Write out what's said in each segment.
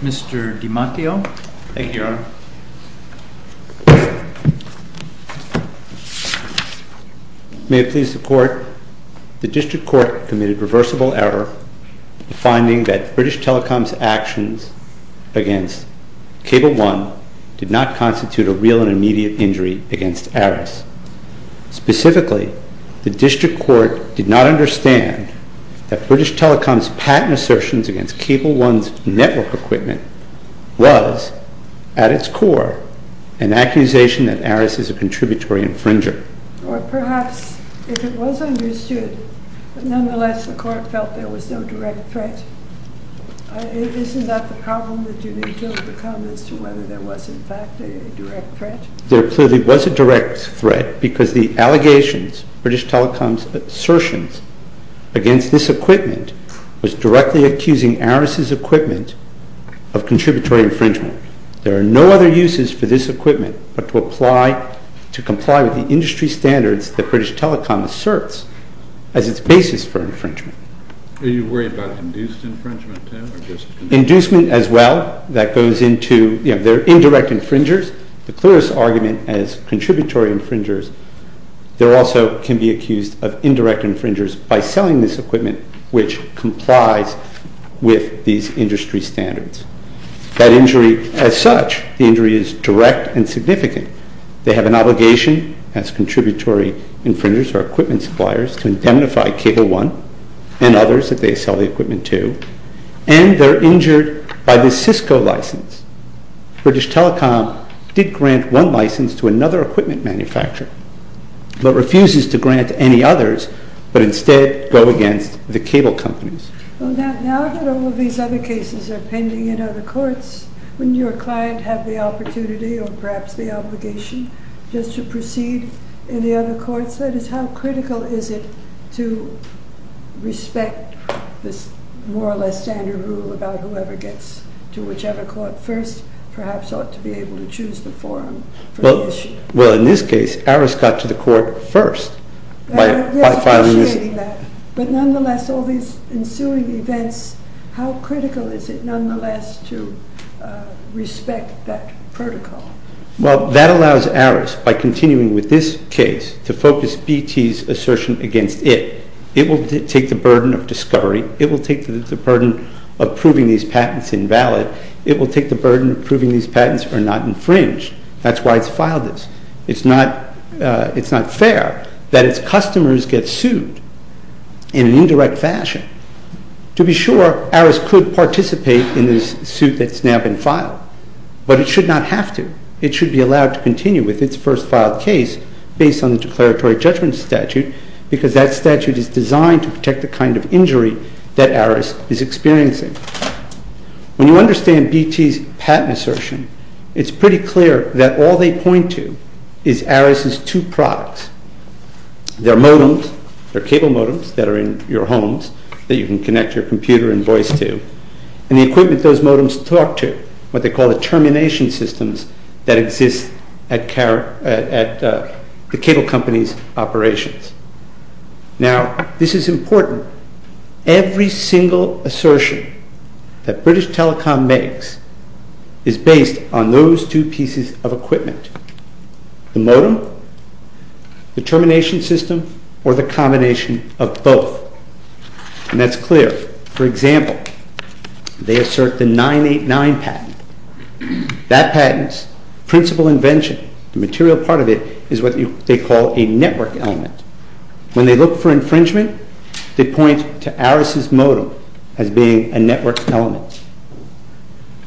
Mr. DiMatteo? Thank you, Your Honor. May it please the Court, the District Court committed reversible error in finding that British Telecom's actions against Cable 1 did not constitute a real and immediate injury against ARRIS. Specifically, the District Court did not understand that British Telecom's patent assertions against Cable 1's network equipment was, at its core, an accusation that ARRIS is a contributory infringer. There clearly was a direct threat because the allegations, British Telecom's assertions against this equipment was directly accusing ARRIS' equipment of contributory infringement. There are no other uses for this equipment but to comply with the industry standards that British Telecom asserts as its basis for infringement. Are you worried about induced infringement, too? Inducement as well. That goes into, you know, they're indirect infringers. The clearest argument as contributory infringers. They also can be accused of indirect infringers by selling this equipment which complies with these industry standards. That injury as such, the injury is direct and significant. They have an obligation as contributory infringers or equipment suppliers to indemnify Cable 1 and others that they sell the equipment to, and they're injured by this Cisco license. British Telecom did grant one license to another equipment manufacturer but refuses to grant any others but instead go against the cable companies. Now that all of these other cases are pending in other courts, wouldn't your client have the opportunity or perhaps the obligation just to proceed in the other courts? That is, how critical is it to respect this more or less standard rule about whoever gets to whichever court first perhaps ought to be able to choose the forum for the issue? Well, in this case, ARIS got to the court first. But nonetheless, all these ensuing events, how critical is it nonetheless to respect that protocol? Well, that allows ARIS, by continuing with this case, to focus BT's assertion against it. It will take the burden of discovery. It will take the burden of proving these patents invalid. It will take the burden of proving these patents are not infringed. That's why it's filed this. It's not fair that its customers get sued in an indirect fashion. To be sure, ARIS could participate in this suit that's now been filed. But it should not have to. It should be allowed to continue with its first filed case based on the declaratory judgment statute because that statute is designed to protect the kind of injury that ARIS is experiencing. When you understand BT's patent assertion, it's pretty clear that all they point to is ARIS's two products. Their modems, their cable modems that are in your homes that you can connect your computer and voice to, and the equipment those modems talk to, what they call the termination systems that exist at the cable company's operations. Now, this is important. Every single assertion that British Telecom makes is based on those two pieces of equipment. The modem, the termination system, or the combination of both. And that's clear. For example, they assert the 989 patent. That patent's principal invention, the material part of it, is what they call a network element. When they look for infringement, they point to ARIS's modem as being a network element.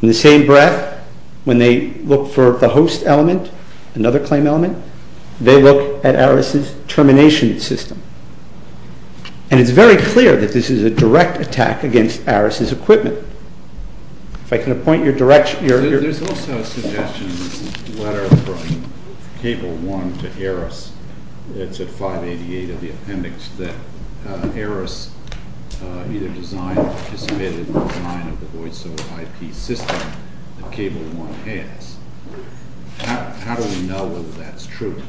In the same breath, when they look for the host element, another claim element, they look at ARIS's termination system. And it's very clear that this is a direct attack against ARIS's equipment. If I can point your direction. There's also a suggestion in the letter from Cable One to ARIS. It's at 588 of the appendix that ARIS either designed or participated in the design of the voice over IP system that Cable One has. How do we know whether that's true?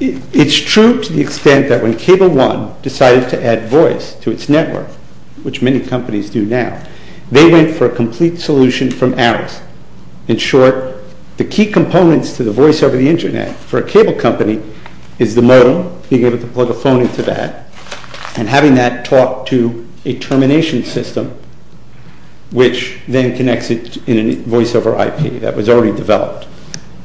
It's true to the extent that when Cable One decided to add voice to its network, which many companies do now, they went for a complete solution from ARIS. In short, the key components to the voice over the internet for a cable company is the modem, being able to plug a phone into that, and having that talk to a termination system, which then connects it in a voice over IP that was already developed.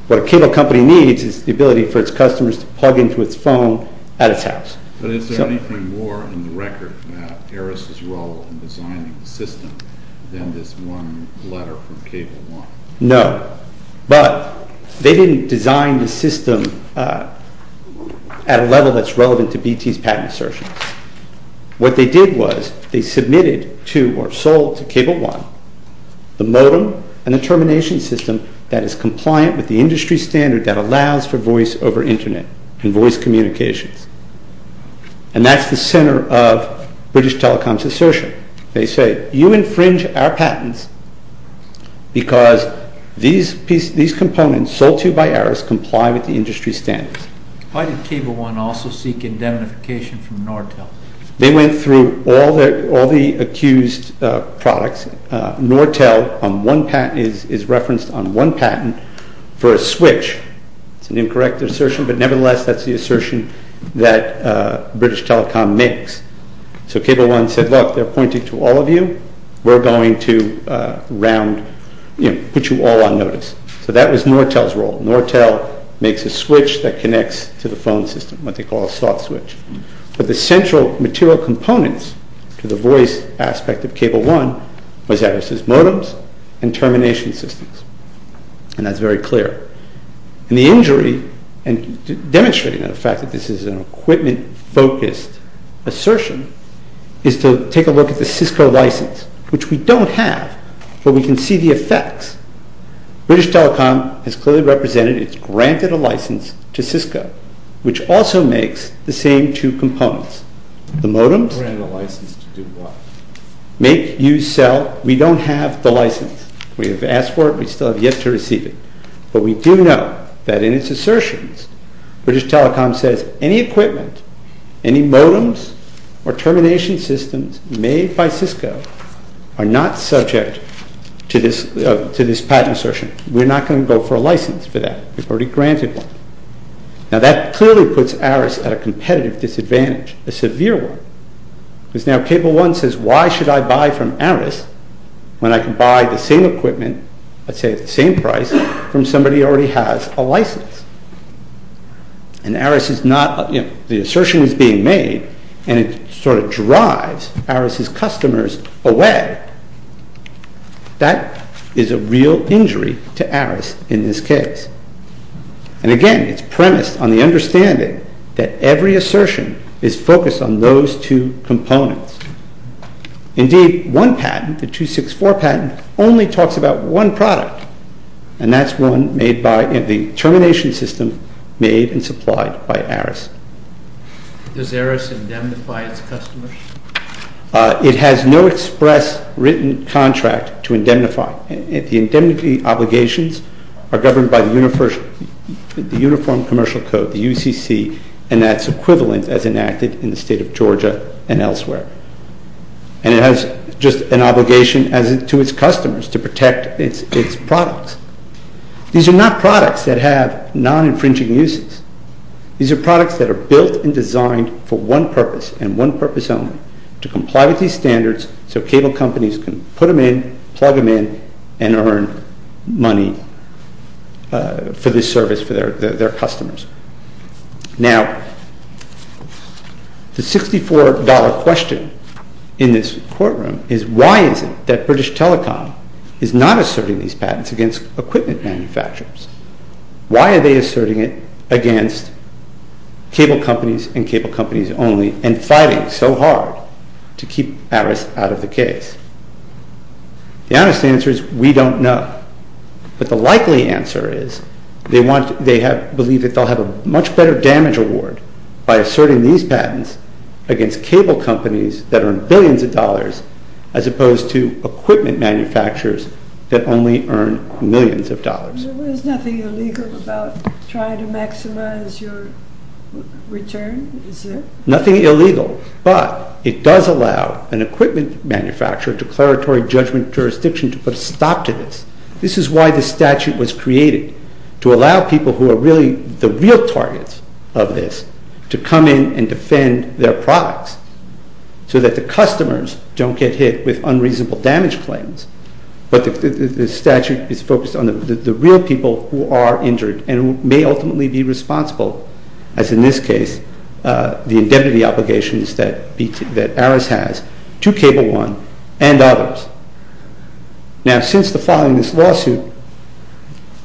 What a cable company needs is the ability for its customers to plug into its phone at its house. But is there anything more in the record about ARIS's role in designing the system than this one letter from Cable One? No. But they didn't design the system at a level that's relevant to BT's patent assertions. What they did was they submitted to or sold to Cable One the modem and the termination system that is compliant with the industry standard that allows for voice over internet and voice communications. And that's the center of British Telecom's assertion. They say, you infringe our patents because these components sold to you by ARIS comply with the industry standards. Why did Cable One also seek indemnification from Nortel? They went through all the accused products. Nortel is referenced on one patent for a switch. It's an incorrect assertion, but nevertheless, that's the assertion that British Telecom makes. So Cable One said, look, they're pointing to all of you. We're going to put you all on notice. So that was Nortel's role. Nortel makes a switch that connects to the phone system, what they call a soft switch. But the central material components to the voice aspect of Cable One was ARIS's modems and termination systems. And that's very clear. And the injury, and demonstrating the fact that this is an equipment-focused assertion, is to take a look at the Cisco license, which we don't have, but we can see the effects. British Telecom has clearly represented it's granted a license to Cisco, which also makes the same two components. The modems make you sell. We don't have the license. We have asked for it. We still have yet to receive it. But we do know that in its assertions, British Telecom says any equipment, any modems or termination systems made by Cisco are not subject to this patent assertion. We're not going to go for a license for that. We've already granted one. Now that clearly puts ARIS at a competitive disadvantage, a severe one. Because now Cable One says, why should I buy from ARIS when I can buy the same equipment, let's say at the same price, from somebody who already has a license? And the assertion is being made, and it sort of drives ARIS's customers away. That is a real injury to ARIS in this case. And again, it's premised on the understanding that every assertion is focused on those two components. Indeed, one patent, the 264 patent, only talks about one product, and that's one made by the termination system made and supplied by ARIS. Does ARIS indemnify its customers? It has no express written contract to indemnify. The indemnity obligations are governed by the Uniform Commercial Code, the UCC, and that's equivalent as enacted in the state of Georgia and elsewhere. And it has just an obligation to its customers to protect its products. These are not products that have non-infringing uses. These are products that are built and designed for one purpose and one purpose only, to comply with these standards so cable companies can put them in, plug them in, and earn money for this service for their customers. Now, the $64 question in this courtroom is, why is it that British Telecom is not asserting these patents against equipment manufacturers? Why are they asserting it against cable companies and cable companies only and fighting so hard to keep ARIS out of the case? The honest answer is, we don't know. But the likely answer is, they believe that they'll have a much better damage award by asserting these patents against cable companies that earn billions of dollars as opposed to equipment manufacturers that only earn millions of dollars. There is nothing illegal about trying to maximize your return, is there? Nothing illegal, but it does allow an equipment manufacturer, a declaratory judgment jurisdiction, to put a stop to this. This is why the statute was created, to allow people who are really the real targets of this to come in and defend their products, so that the customers don't get hit with unreasonable damage claims. But the statute is focused on the real people who are injured and who may ultimately be responsible, as in this case, the indemnity obligations that ARIS has to Cable One and others. Now, since the filing of this lawsuit,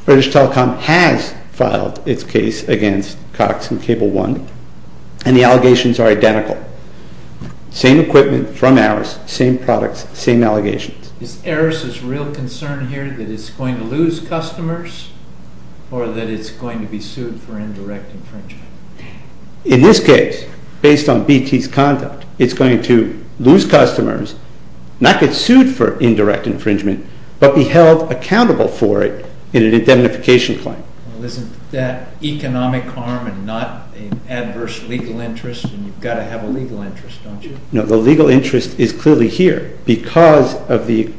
British Telecom has filed its case against Cox and Cable One, and the allegations are identical. Same equipment from ARIS, same products, same allegations. Is ARIS' real concern here that it's going to lose customers or that it's going to be sued for indirect infringement? In this case, based on BT's conduct, it's going to lose customers, not get sued for indirect infringement, but be held accountable for it in an indemnification claim. Well, isn't that economic harm and not an adverse legal interest? You've got to have a legal interest, don't you? No, the legal interest is clearly here because of the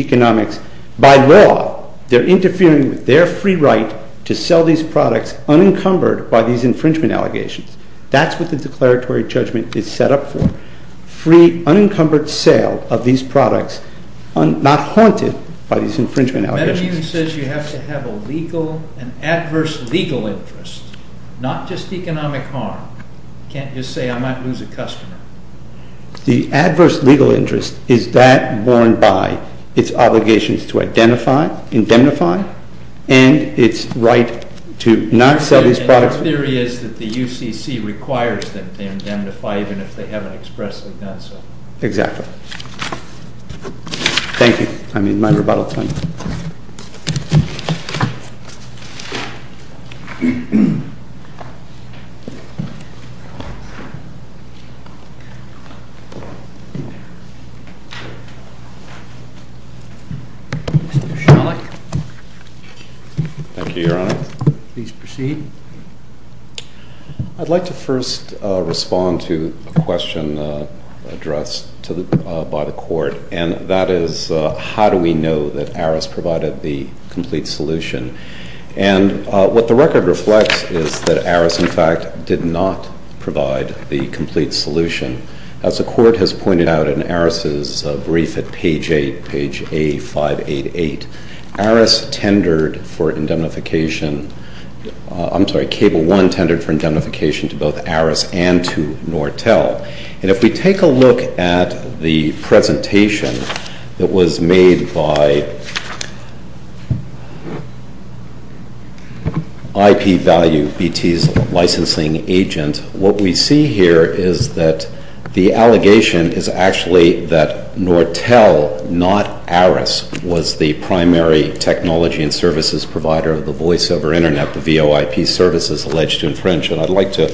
economics. By law, they're interfering with their free right to sell these products unencumbered by these infringement allegations. That's what the declaratory judgment is set up for, free unencumbered sale of these products, not haunted by these infringement allegations. MetaMun says you have to have an adverse legal interest, not just economic harm. You can't just say, I might lose a customer. The adverse legal interest is that borne by its obligations to identify, indemnify, and its right to not sell these products. Our theory is that the UCC requires them to indemnify even if they haven't expressly done so. Exactly. Thank you. I'm in my rebuttal time. Mr. Shelley. Thank you, Your Honor. Please proceed. I'd like to first respond to a question addressed by the court, and that is, how do we know that arrogance, is not the cause of the crime? In the case of Arras, Arras provided the complete solution. And what the record reflects is that Arras, in fact, did not provide the complete solution. As the court has pointed out in Arras' brief at page 8, page A588, Arras tendered for indemnification, I'm sorry, Cable 1 tendered for indemnification to both Arras and to Nortel. And if we take a look at the presentation that was made by IP Value, BT's licensing agent, what we see here is that the allegation is actually that Nortel, not Arras, was the primary technology and services provider of the voice over internet, the VOIP services alleged to infringe. And I'd like to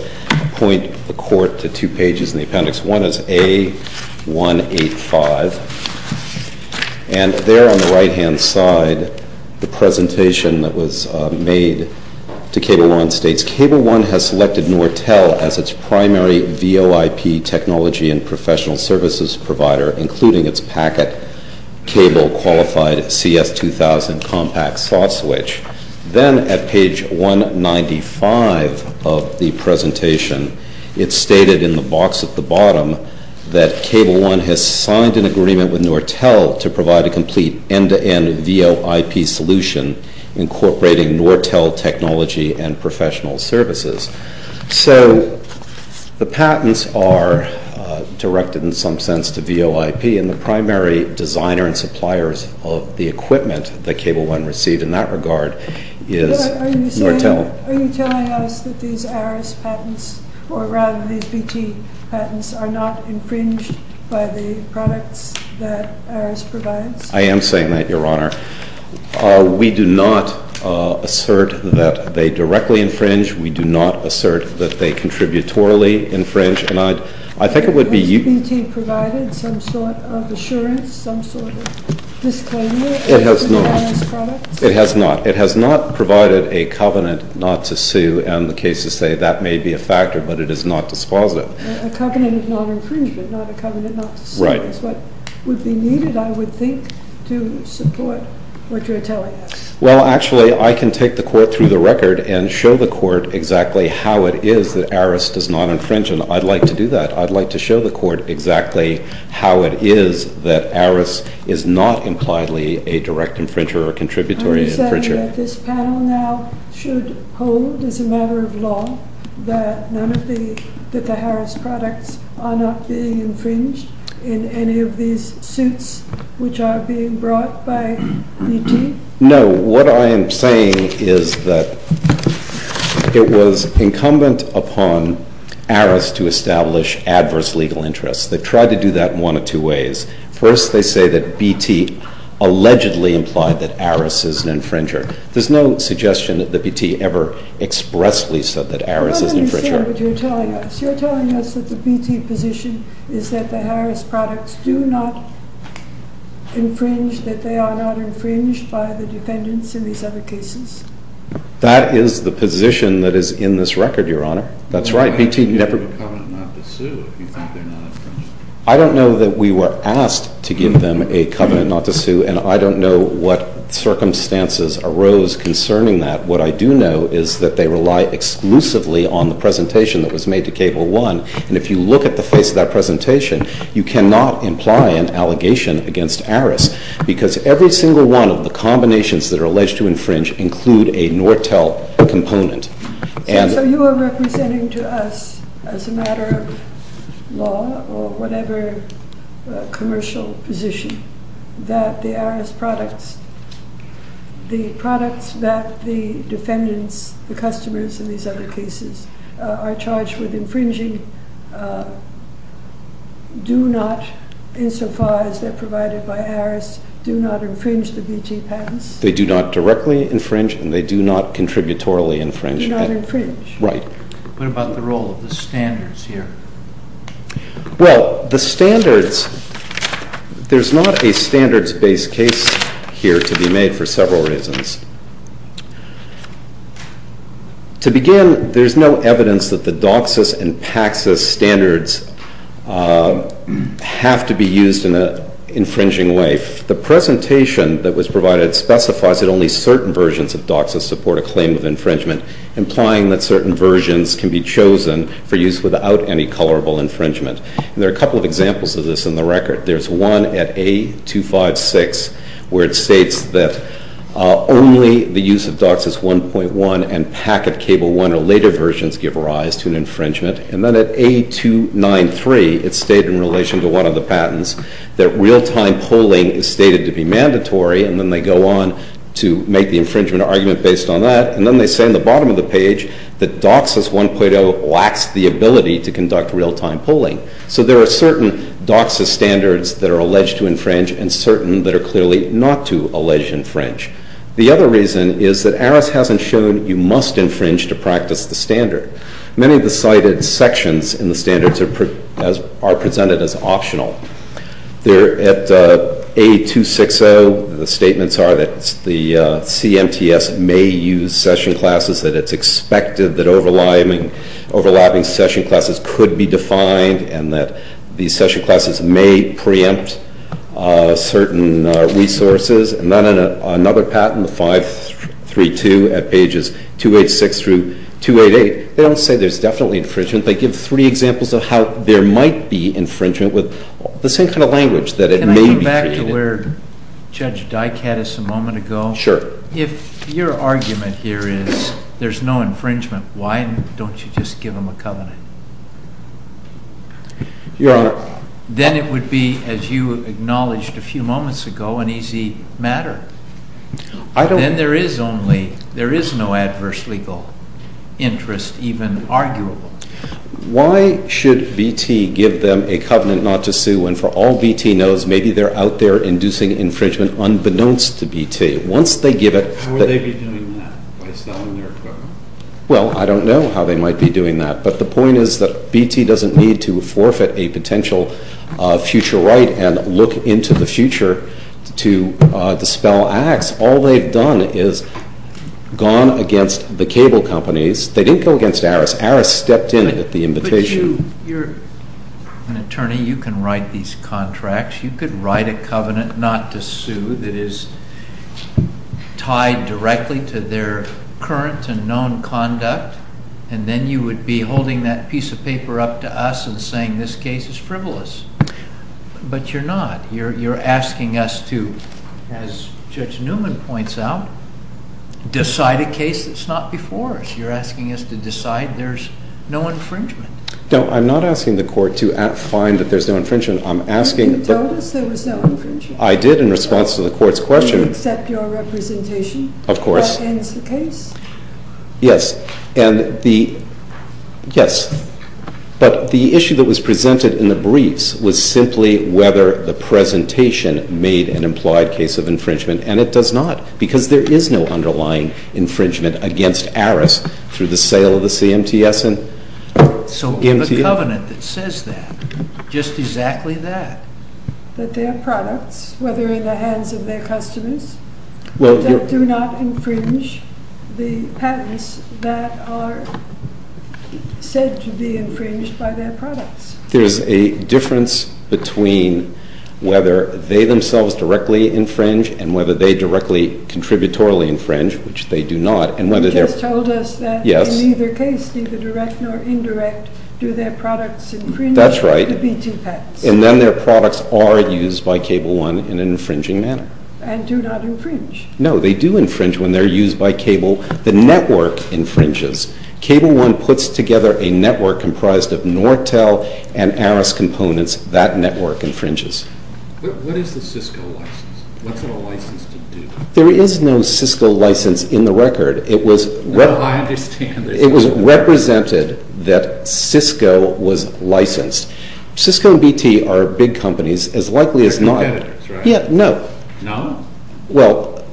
point the court to two pages in the appendix. One is A185. And there on the right-hand side, the presentation that was made to Cable 1 states, Cable 1 has selected Nortel as its primary VOIP technology and professional services provider, including its packet cable qualified CS2000 compact soft switch. Then at page 195 of the presentation, it's stated in the box at the bottom that Cable 1 has signed an agreement with Nortel to provide a complete end-to-end VOIP solution incorporating Nortel technology and professional services. So the patents are directed in some sense to VOIP, and the primary designer and suppliers of the equipment that Cable 1 can receive in that regard is Nortel. Are you telling us that these Arras patents, or rather these BT patents, are not infringed by the products that Arras provides? I am saying that, Your Honor. We do not assert that they directly infringe. We do not assert that they contributorily infringe. Has BT provided some sort of assurance, some sort of disclaimer? It has not. It has not. It has not provided a covenant not to sue, and the cases say that may be a factor, but it is not dispositive. A covenant of non-infringement, not a covenant not to sue. Right. That's what would be needed, I would think, to support what you're telling us. Well, actually, I can take the Court through the record and show the Court exactly how it is that Arras does not infringe, and I'd like to do that. I'd like to show the Court exactly how it is that Arras is not impliedly a direct infringer or contributory infringer. Are you saying that this panel now should hold, as a matter of law, that the Arras products are not being infringed in any of these suits which are being brought by BT? No. What I am saying is that it was incumbent upon Arras to establish adverse legal interests. They've tried to do that in one of two ways. First, they say that BT allegedly implied that Arras is an infringer. There's no suggestion that the BT ever expressly said that Arras is an infringer. Well, let me say what you're telling us. You're telling us that the BT position is that the Arras products do not infringe, that they are not infringed by the defendants in these other cases. That is the position that is in this record, Your Honor. That's right. A covenant not to sue, if you think they're not infringed. I don't know that we were asked to give them a covenant not to sue, and I don't know what circumstances arose concerning that. What I do know is that they rely exclusively on the presentation that was made to Cable 1, and if you look at the face of that presentation, you cannot imply an allegation against Arras because every single one of the combinations that are alleged to infringe include a Nortel component. So you are representing to us, as a matter of law or whatever commercial position, that the Arras products, the products that the defendants, the customers in these other cases, are charged with infringing do not, insofar as they're provided by Arras, do not infringe the BT patents? They do not directly infringe, and they do not contributorily infringe. They do not infringe. Right. What about the role of the standards here? Well, the standards, there's not a standards-based case here to be made for several reasons. To begin, there's no evidence that the DOCSIS and PACSIS standards have to be used in an infringing way. The presentation that was provided specifies that only certain versions of DOCSIS support a claim of infringement, implying that certain versions can be chosen for use without any colorable infringement. And there are a couple of examples of this in the record. There's one at A256 where it states that only the use of DOCSIS 1.1 and PACSIS Cable 1 or later versions give rise to an infringement. And then at A293, it's stated in relation to one of the patents that real-time polling is stated to be mandatory, and then they go on to make the infringement argument based on that. And then they say in the bottom of the page that DOCSIS 1.0 lacks the ability to conduct real-time polling. So there are certain DOCSIS standards that are alleged to infringe and certain that are clearly not to allege infringe. The other reason is that ARIS hasn't shown you must infringe to practice the standard. Many of the cited sections in the standards are presented as optional. At A260, the statements are that the CMTS may use session classes, that it's expected that overlapping session classes could be defined, and that these session classes may preempt certain resources. And then in another patent, the 532 at pages 286 through 288, they don't say there's definitely infringement. They give three examples of how there might be infringement with the same kind of language that it may be created. Can I go back to where Judge Dykatis a moment ago? Sure. If your argument here is there's no infringement, why don't you just give them a covenant? Your Honor. Then it would be, as you acknowledged a few moments ago, an easy matter. Then there is no adverse legal interest even arguable. Why should VT give them a covenant not to sue when, for all VT knows, maybe they're out there inducing infringement unbeknownst to VT? How would they be doing that, by selling their covenant? Well, I don't know how they might be doing that, but the point is that VT doesn't need to forfeit a potential future right and look into the future to dispel acts. All they've done is gone against the cable companies. They didn't go against Aris. Aris stepped in at the invitation. But you're an attorney. You can write these contracts. You could write a covenant not to sue that is tied directly to their current and known conduct, and then you would be holding that piece of paper up to us and saying this case is frivolous. But you're not. You're asking us to, as Judge Newman points out, decide a case that's not before us. You're asking us to decide there's no infringement. No, I'm not asking the court to find that there's no infringement. You told us there was no infringement. I did in response to the court's question. Do you accept your representation? Of course. That ends the case? Yes. Yes. But the issue that was presented in the briefs was simply whether the presentation made an implied case of infringement, and it does not because there is no underlying infringement against Aris through the sale of the CMTS. So the covenant that says that, just exactly that. That their products, whether in the hands of their customers, do not infringe the patents that are said to be infringed by their products. There's a difference between whether they themselves directly infringe and whether they directly contributorily infringe, which they do not. You just told us that in either case, neither direct nor indirect, do their products infringe the BT patents. That's right. And then their products are used by Cable 1 in an infringing manner. And do not infringe. No, they do infringe when they're used by Cable. The network infringes. Cable 1 puts together a network comprised of Nortel and Aris components. That network infringes. What is the Cisco license? What's it all licensed to do? There is no Cisco license in the record. No, I understand. It was represented that Cisco was licensed. Cisco and BT are big companies, as likely as not. They're competitors, right? Yeah, no. No? Well,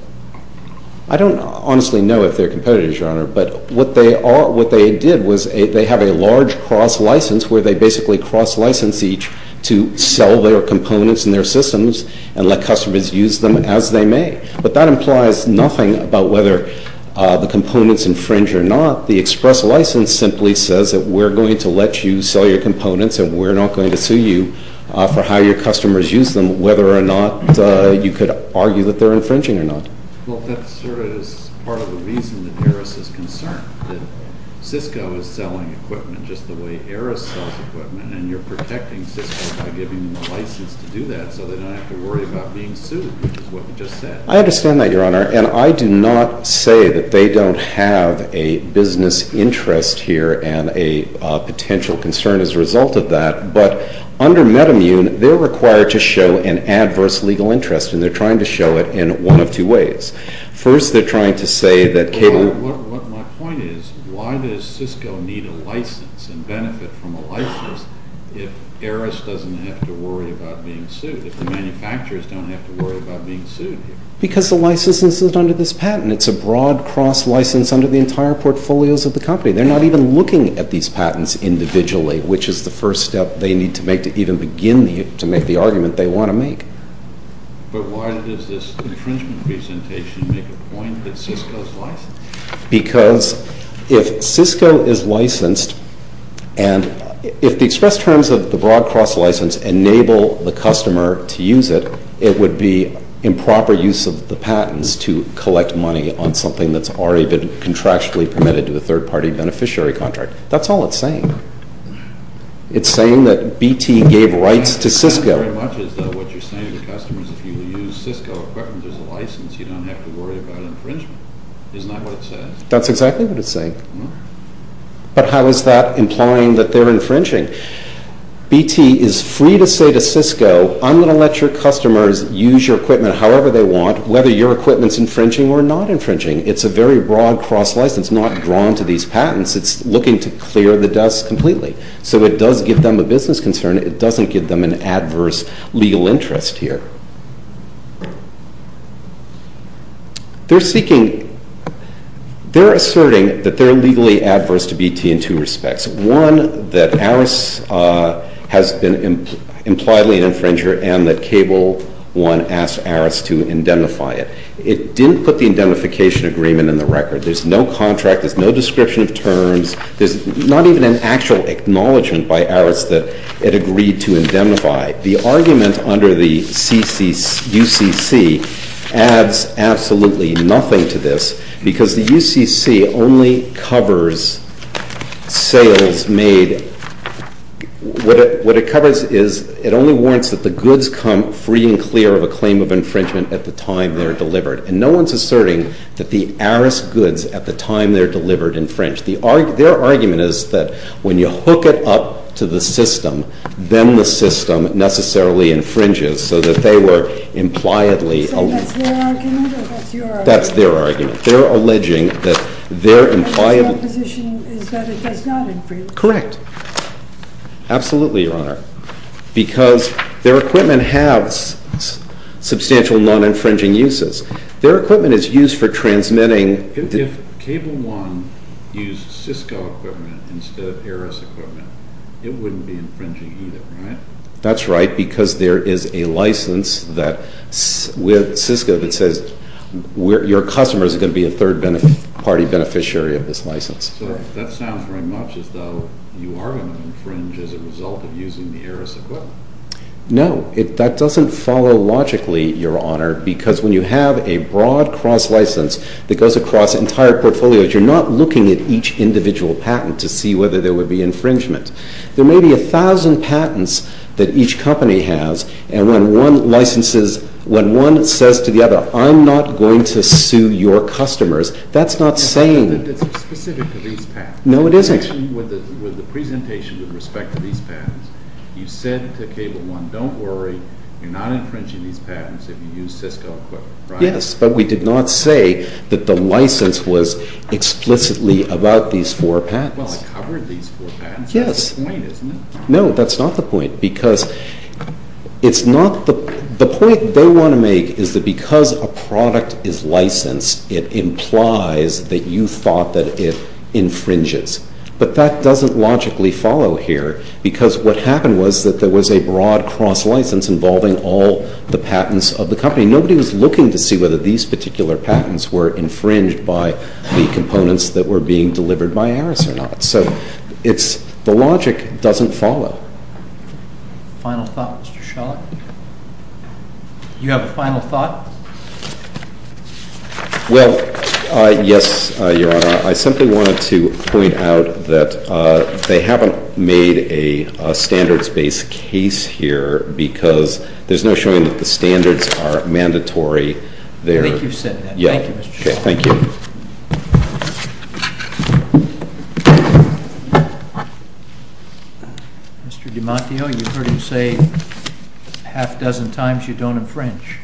I don't honestly know if they're competitors, Your Honor, but what they did was they have a large cross-license where they basically cross-license each to sell their components and their systems and let customers use them as they may. But that implies nothing about whether the components infringe or not. The express license simply says that we're going to let you sell your components and we're not going to sue you for how your customers use them, whether or not you could argue that they're infringing or not. Well, that sort of is part of the reason that Aris is concerned, that Cisco is selling equipment just the way Aris sells equipment, and you're protecting Cisco by giving them the license to do that so they don't have to worry about being sued, which is what you just said. I understand that, Your Honor, and I do not say that they don't have a business interest here and a potential concern as a result of that, but under MedImmune, they're required to show an adverse legal interest, and they're trying to show it in one of two ways. My point is, why does Cisco need a license and benefit from a license if Aris doesn't have to worry about being sued, if the manufacturers don't have to worry about being sued? Because the license isn't under this patent. It's a broad cross-license under the entire portfolios of the company. They're not even looking at these patents individually, which is the first step they need to make to even begin to make the argument they want to make. But why does this infringement presentation make a point that Cisco's licensed? Because if Cisco is licensed, and if the express terms of the broad cross-license enable the customer to use it, it would be improper use of the patents to collect money on something that's already been contractually permitted to a third-party beneficiary contract. That's all it's saying. It's saying that BT gave rights to Cisco. Very much as though what you're saying to the customers, if you use Cisco equipment as a license, you don't have to worry about infringement. Isn't that what it says? That's exactly what it's saying. But how is that implying that they're infringing? BT is free to say to Cisco, I'm going to let your customers use your equipment however they want, whether your equipment's infringing or not infringing. It's a very broad cross-license, not drawn to these patents. It's looking to clear the dust completely. So it does give them a business concern. It doesn't give them an adverse legal interest here. They're seeking—they're asserting that they're legally adverse to BT in two respects. One, that ARIS has been impliedly an infringer and that Cable 1 asked ARIS to indemnify it. It didn't put the indemnification agreement in the record. There's no description of terms. There's not even an actual acknowledgment by ARIS that it agreed to indemnify. The argument under the UCC adds absolutely nothing to this because the UCC only covers sales made—what it covers is it only warrants that the goods come free and clear of a claim of infringement at the time they're delivered. And no one's asserting that the ARIS goods at the time they're delivered infringe. Their argument is that when you hook it up to the system, then the system necessarily infringes so that they were impliedly— So that's their argument or that's your argument? That's their argument. They're alleging that they're impliedly— Their position is that it does not infringe. Correct. Absolutely, Your Honor, because their equipment has substantial non-infringing uses. Their equipment is used for transmitting— If Cable One used Cisco equipment instead of ARIS equipment, it wouldn't be infringing either, right? That's right, because there is a license with Cisco that says your customer is going to be a third-party beneficiary of this license. So that sounds very much as though you are going to infringe as a result of using the ARIS equipment. No. That doesn't follow logically, Your Honor, because when you have a broad cross-license that goes across entire portfolios, you're not looking at each individual patent to see whether there would be infringement. There may be a thousand patents that each company has, and when one licenses—when one says to the other, I'm not going to sue your customers, that's not saying— It's specific to these patents. No, it isn't. With the presentation with respect to these patents, you said to Cable One, don't worry, you're not infringing these patents if you use Cisco equipment, right? Yes, but we did not say that the license was explicitly about these four patents. Well, it covered these four patents. Yes. That's the point, isn't it? No, that's not the point, because it's not—the point they want to make is that because a product is licensed, it implies that you thought that it infringes, but that doesn't logically follow here, because what happened was that there was a broad cross-license involving all the patents of the company. Nobody was looking to see whether these particular patents were infringed by the components that were being delivered by Aris or not. So it's—the logic doesn't follow. Final thought, Mr. Schallach? You have a final thought? Well, yes, Your Honor. I simply wanted to point out that they haven't made a standards-based case here, because there's no showing that the standards are mandatory. I think you've said that. Yeah. Thank you, Mr. Schallach. Thank you. Mr. DiMantio, you heard him say a half dozen times you don't infringe.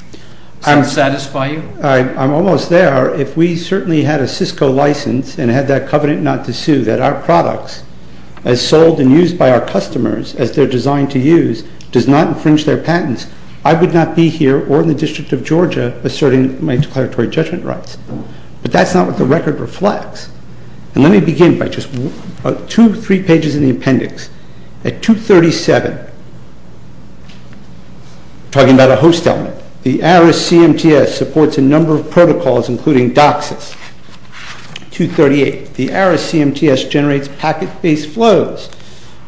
Does that satisfy you? I'm almost there. If we certainly had a Cisco license and had that covenant not to sue, that our products, as sold and used by our customers as they're designed to use, does not infringe their patents, I would not be here or in the District of Georgia asserting my declaratory judgment rights. But that's not what the record reflects. And let me begin by just two or three pages in the appendix. At 237, talking about a host element, the ARIS CMTS supports a number of protocols, including DOCSIS. 238, the ARIS CMTS generates packet-based flows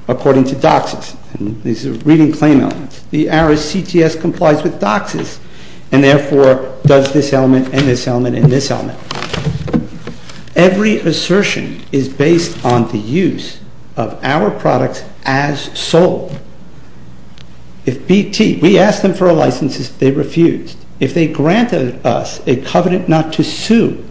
according to DOCSIS. And these are reading claim elements. The ARIS CTS complies with DOCSIS and, therefore, does this element and this element and this element. Every assertion is based on the use of our products as sold. If BT, we asked them for a license, they refused. If they granted us a covenant not to sue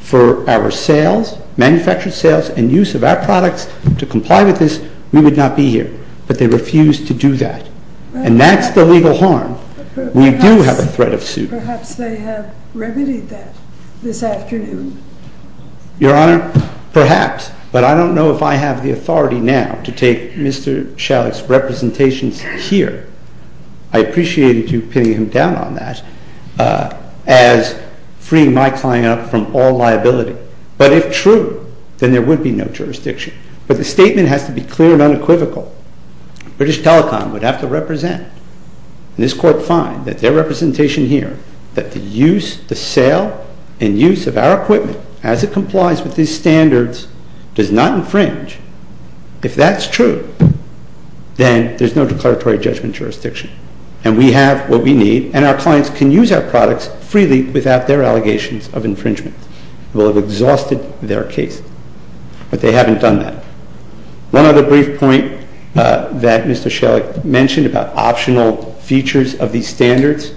for our sales, manufactured sales and use of our products to comply with this, we would not be here. But they refused to do that. And that's the legal harm. We do have a threat of suit. Perhaps they have remedied that. This afternoon. Your Honor, perhaps. But I don't know if I have the authority now to take Mr. Shalik's representations here. I appreciated you pinning him down on that as freeing my client up from all liability. But if true, then there would be no jurisdiction. But the statement has to be clear and unequivocal. British Telecom would have to represent. And this Court finds that their representation here, that the use, the sale and use of our equipment as it complies with these standards does not infringe. If that's true, then there's no declaratory judgment jurisdiction. And we have what we need. And our clients can use our products freely without their allegations of infringement. We'll have exhausted their case. But they haven't done that. One other brief point that Mr. Shalik mentioned about optional features of these standards.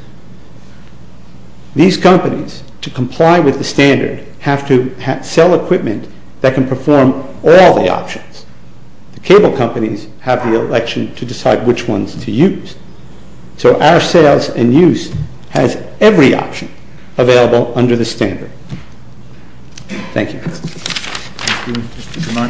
These companies, to comply with the standard, have to sell equipment that can perform all the options. The cable companies have the election to decide which ones to use. So our sales and use has every option available under the standard. Thank you.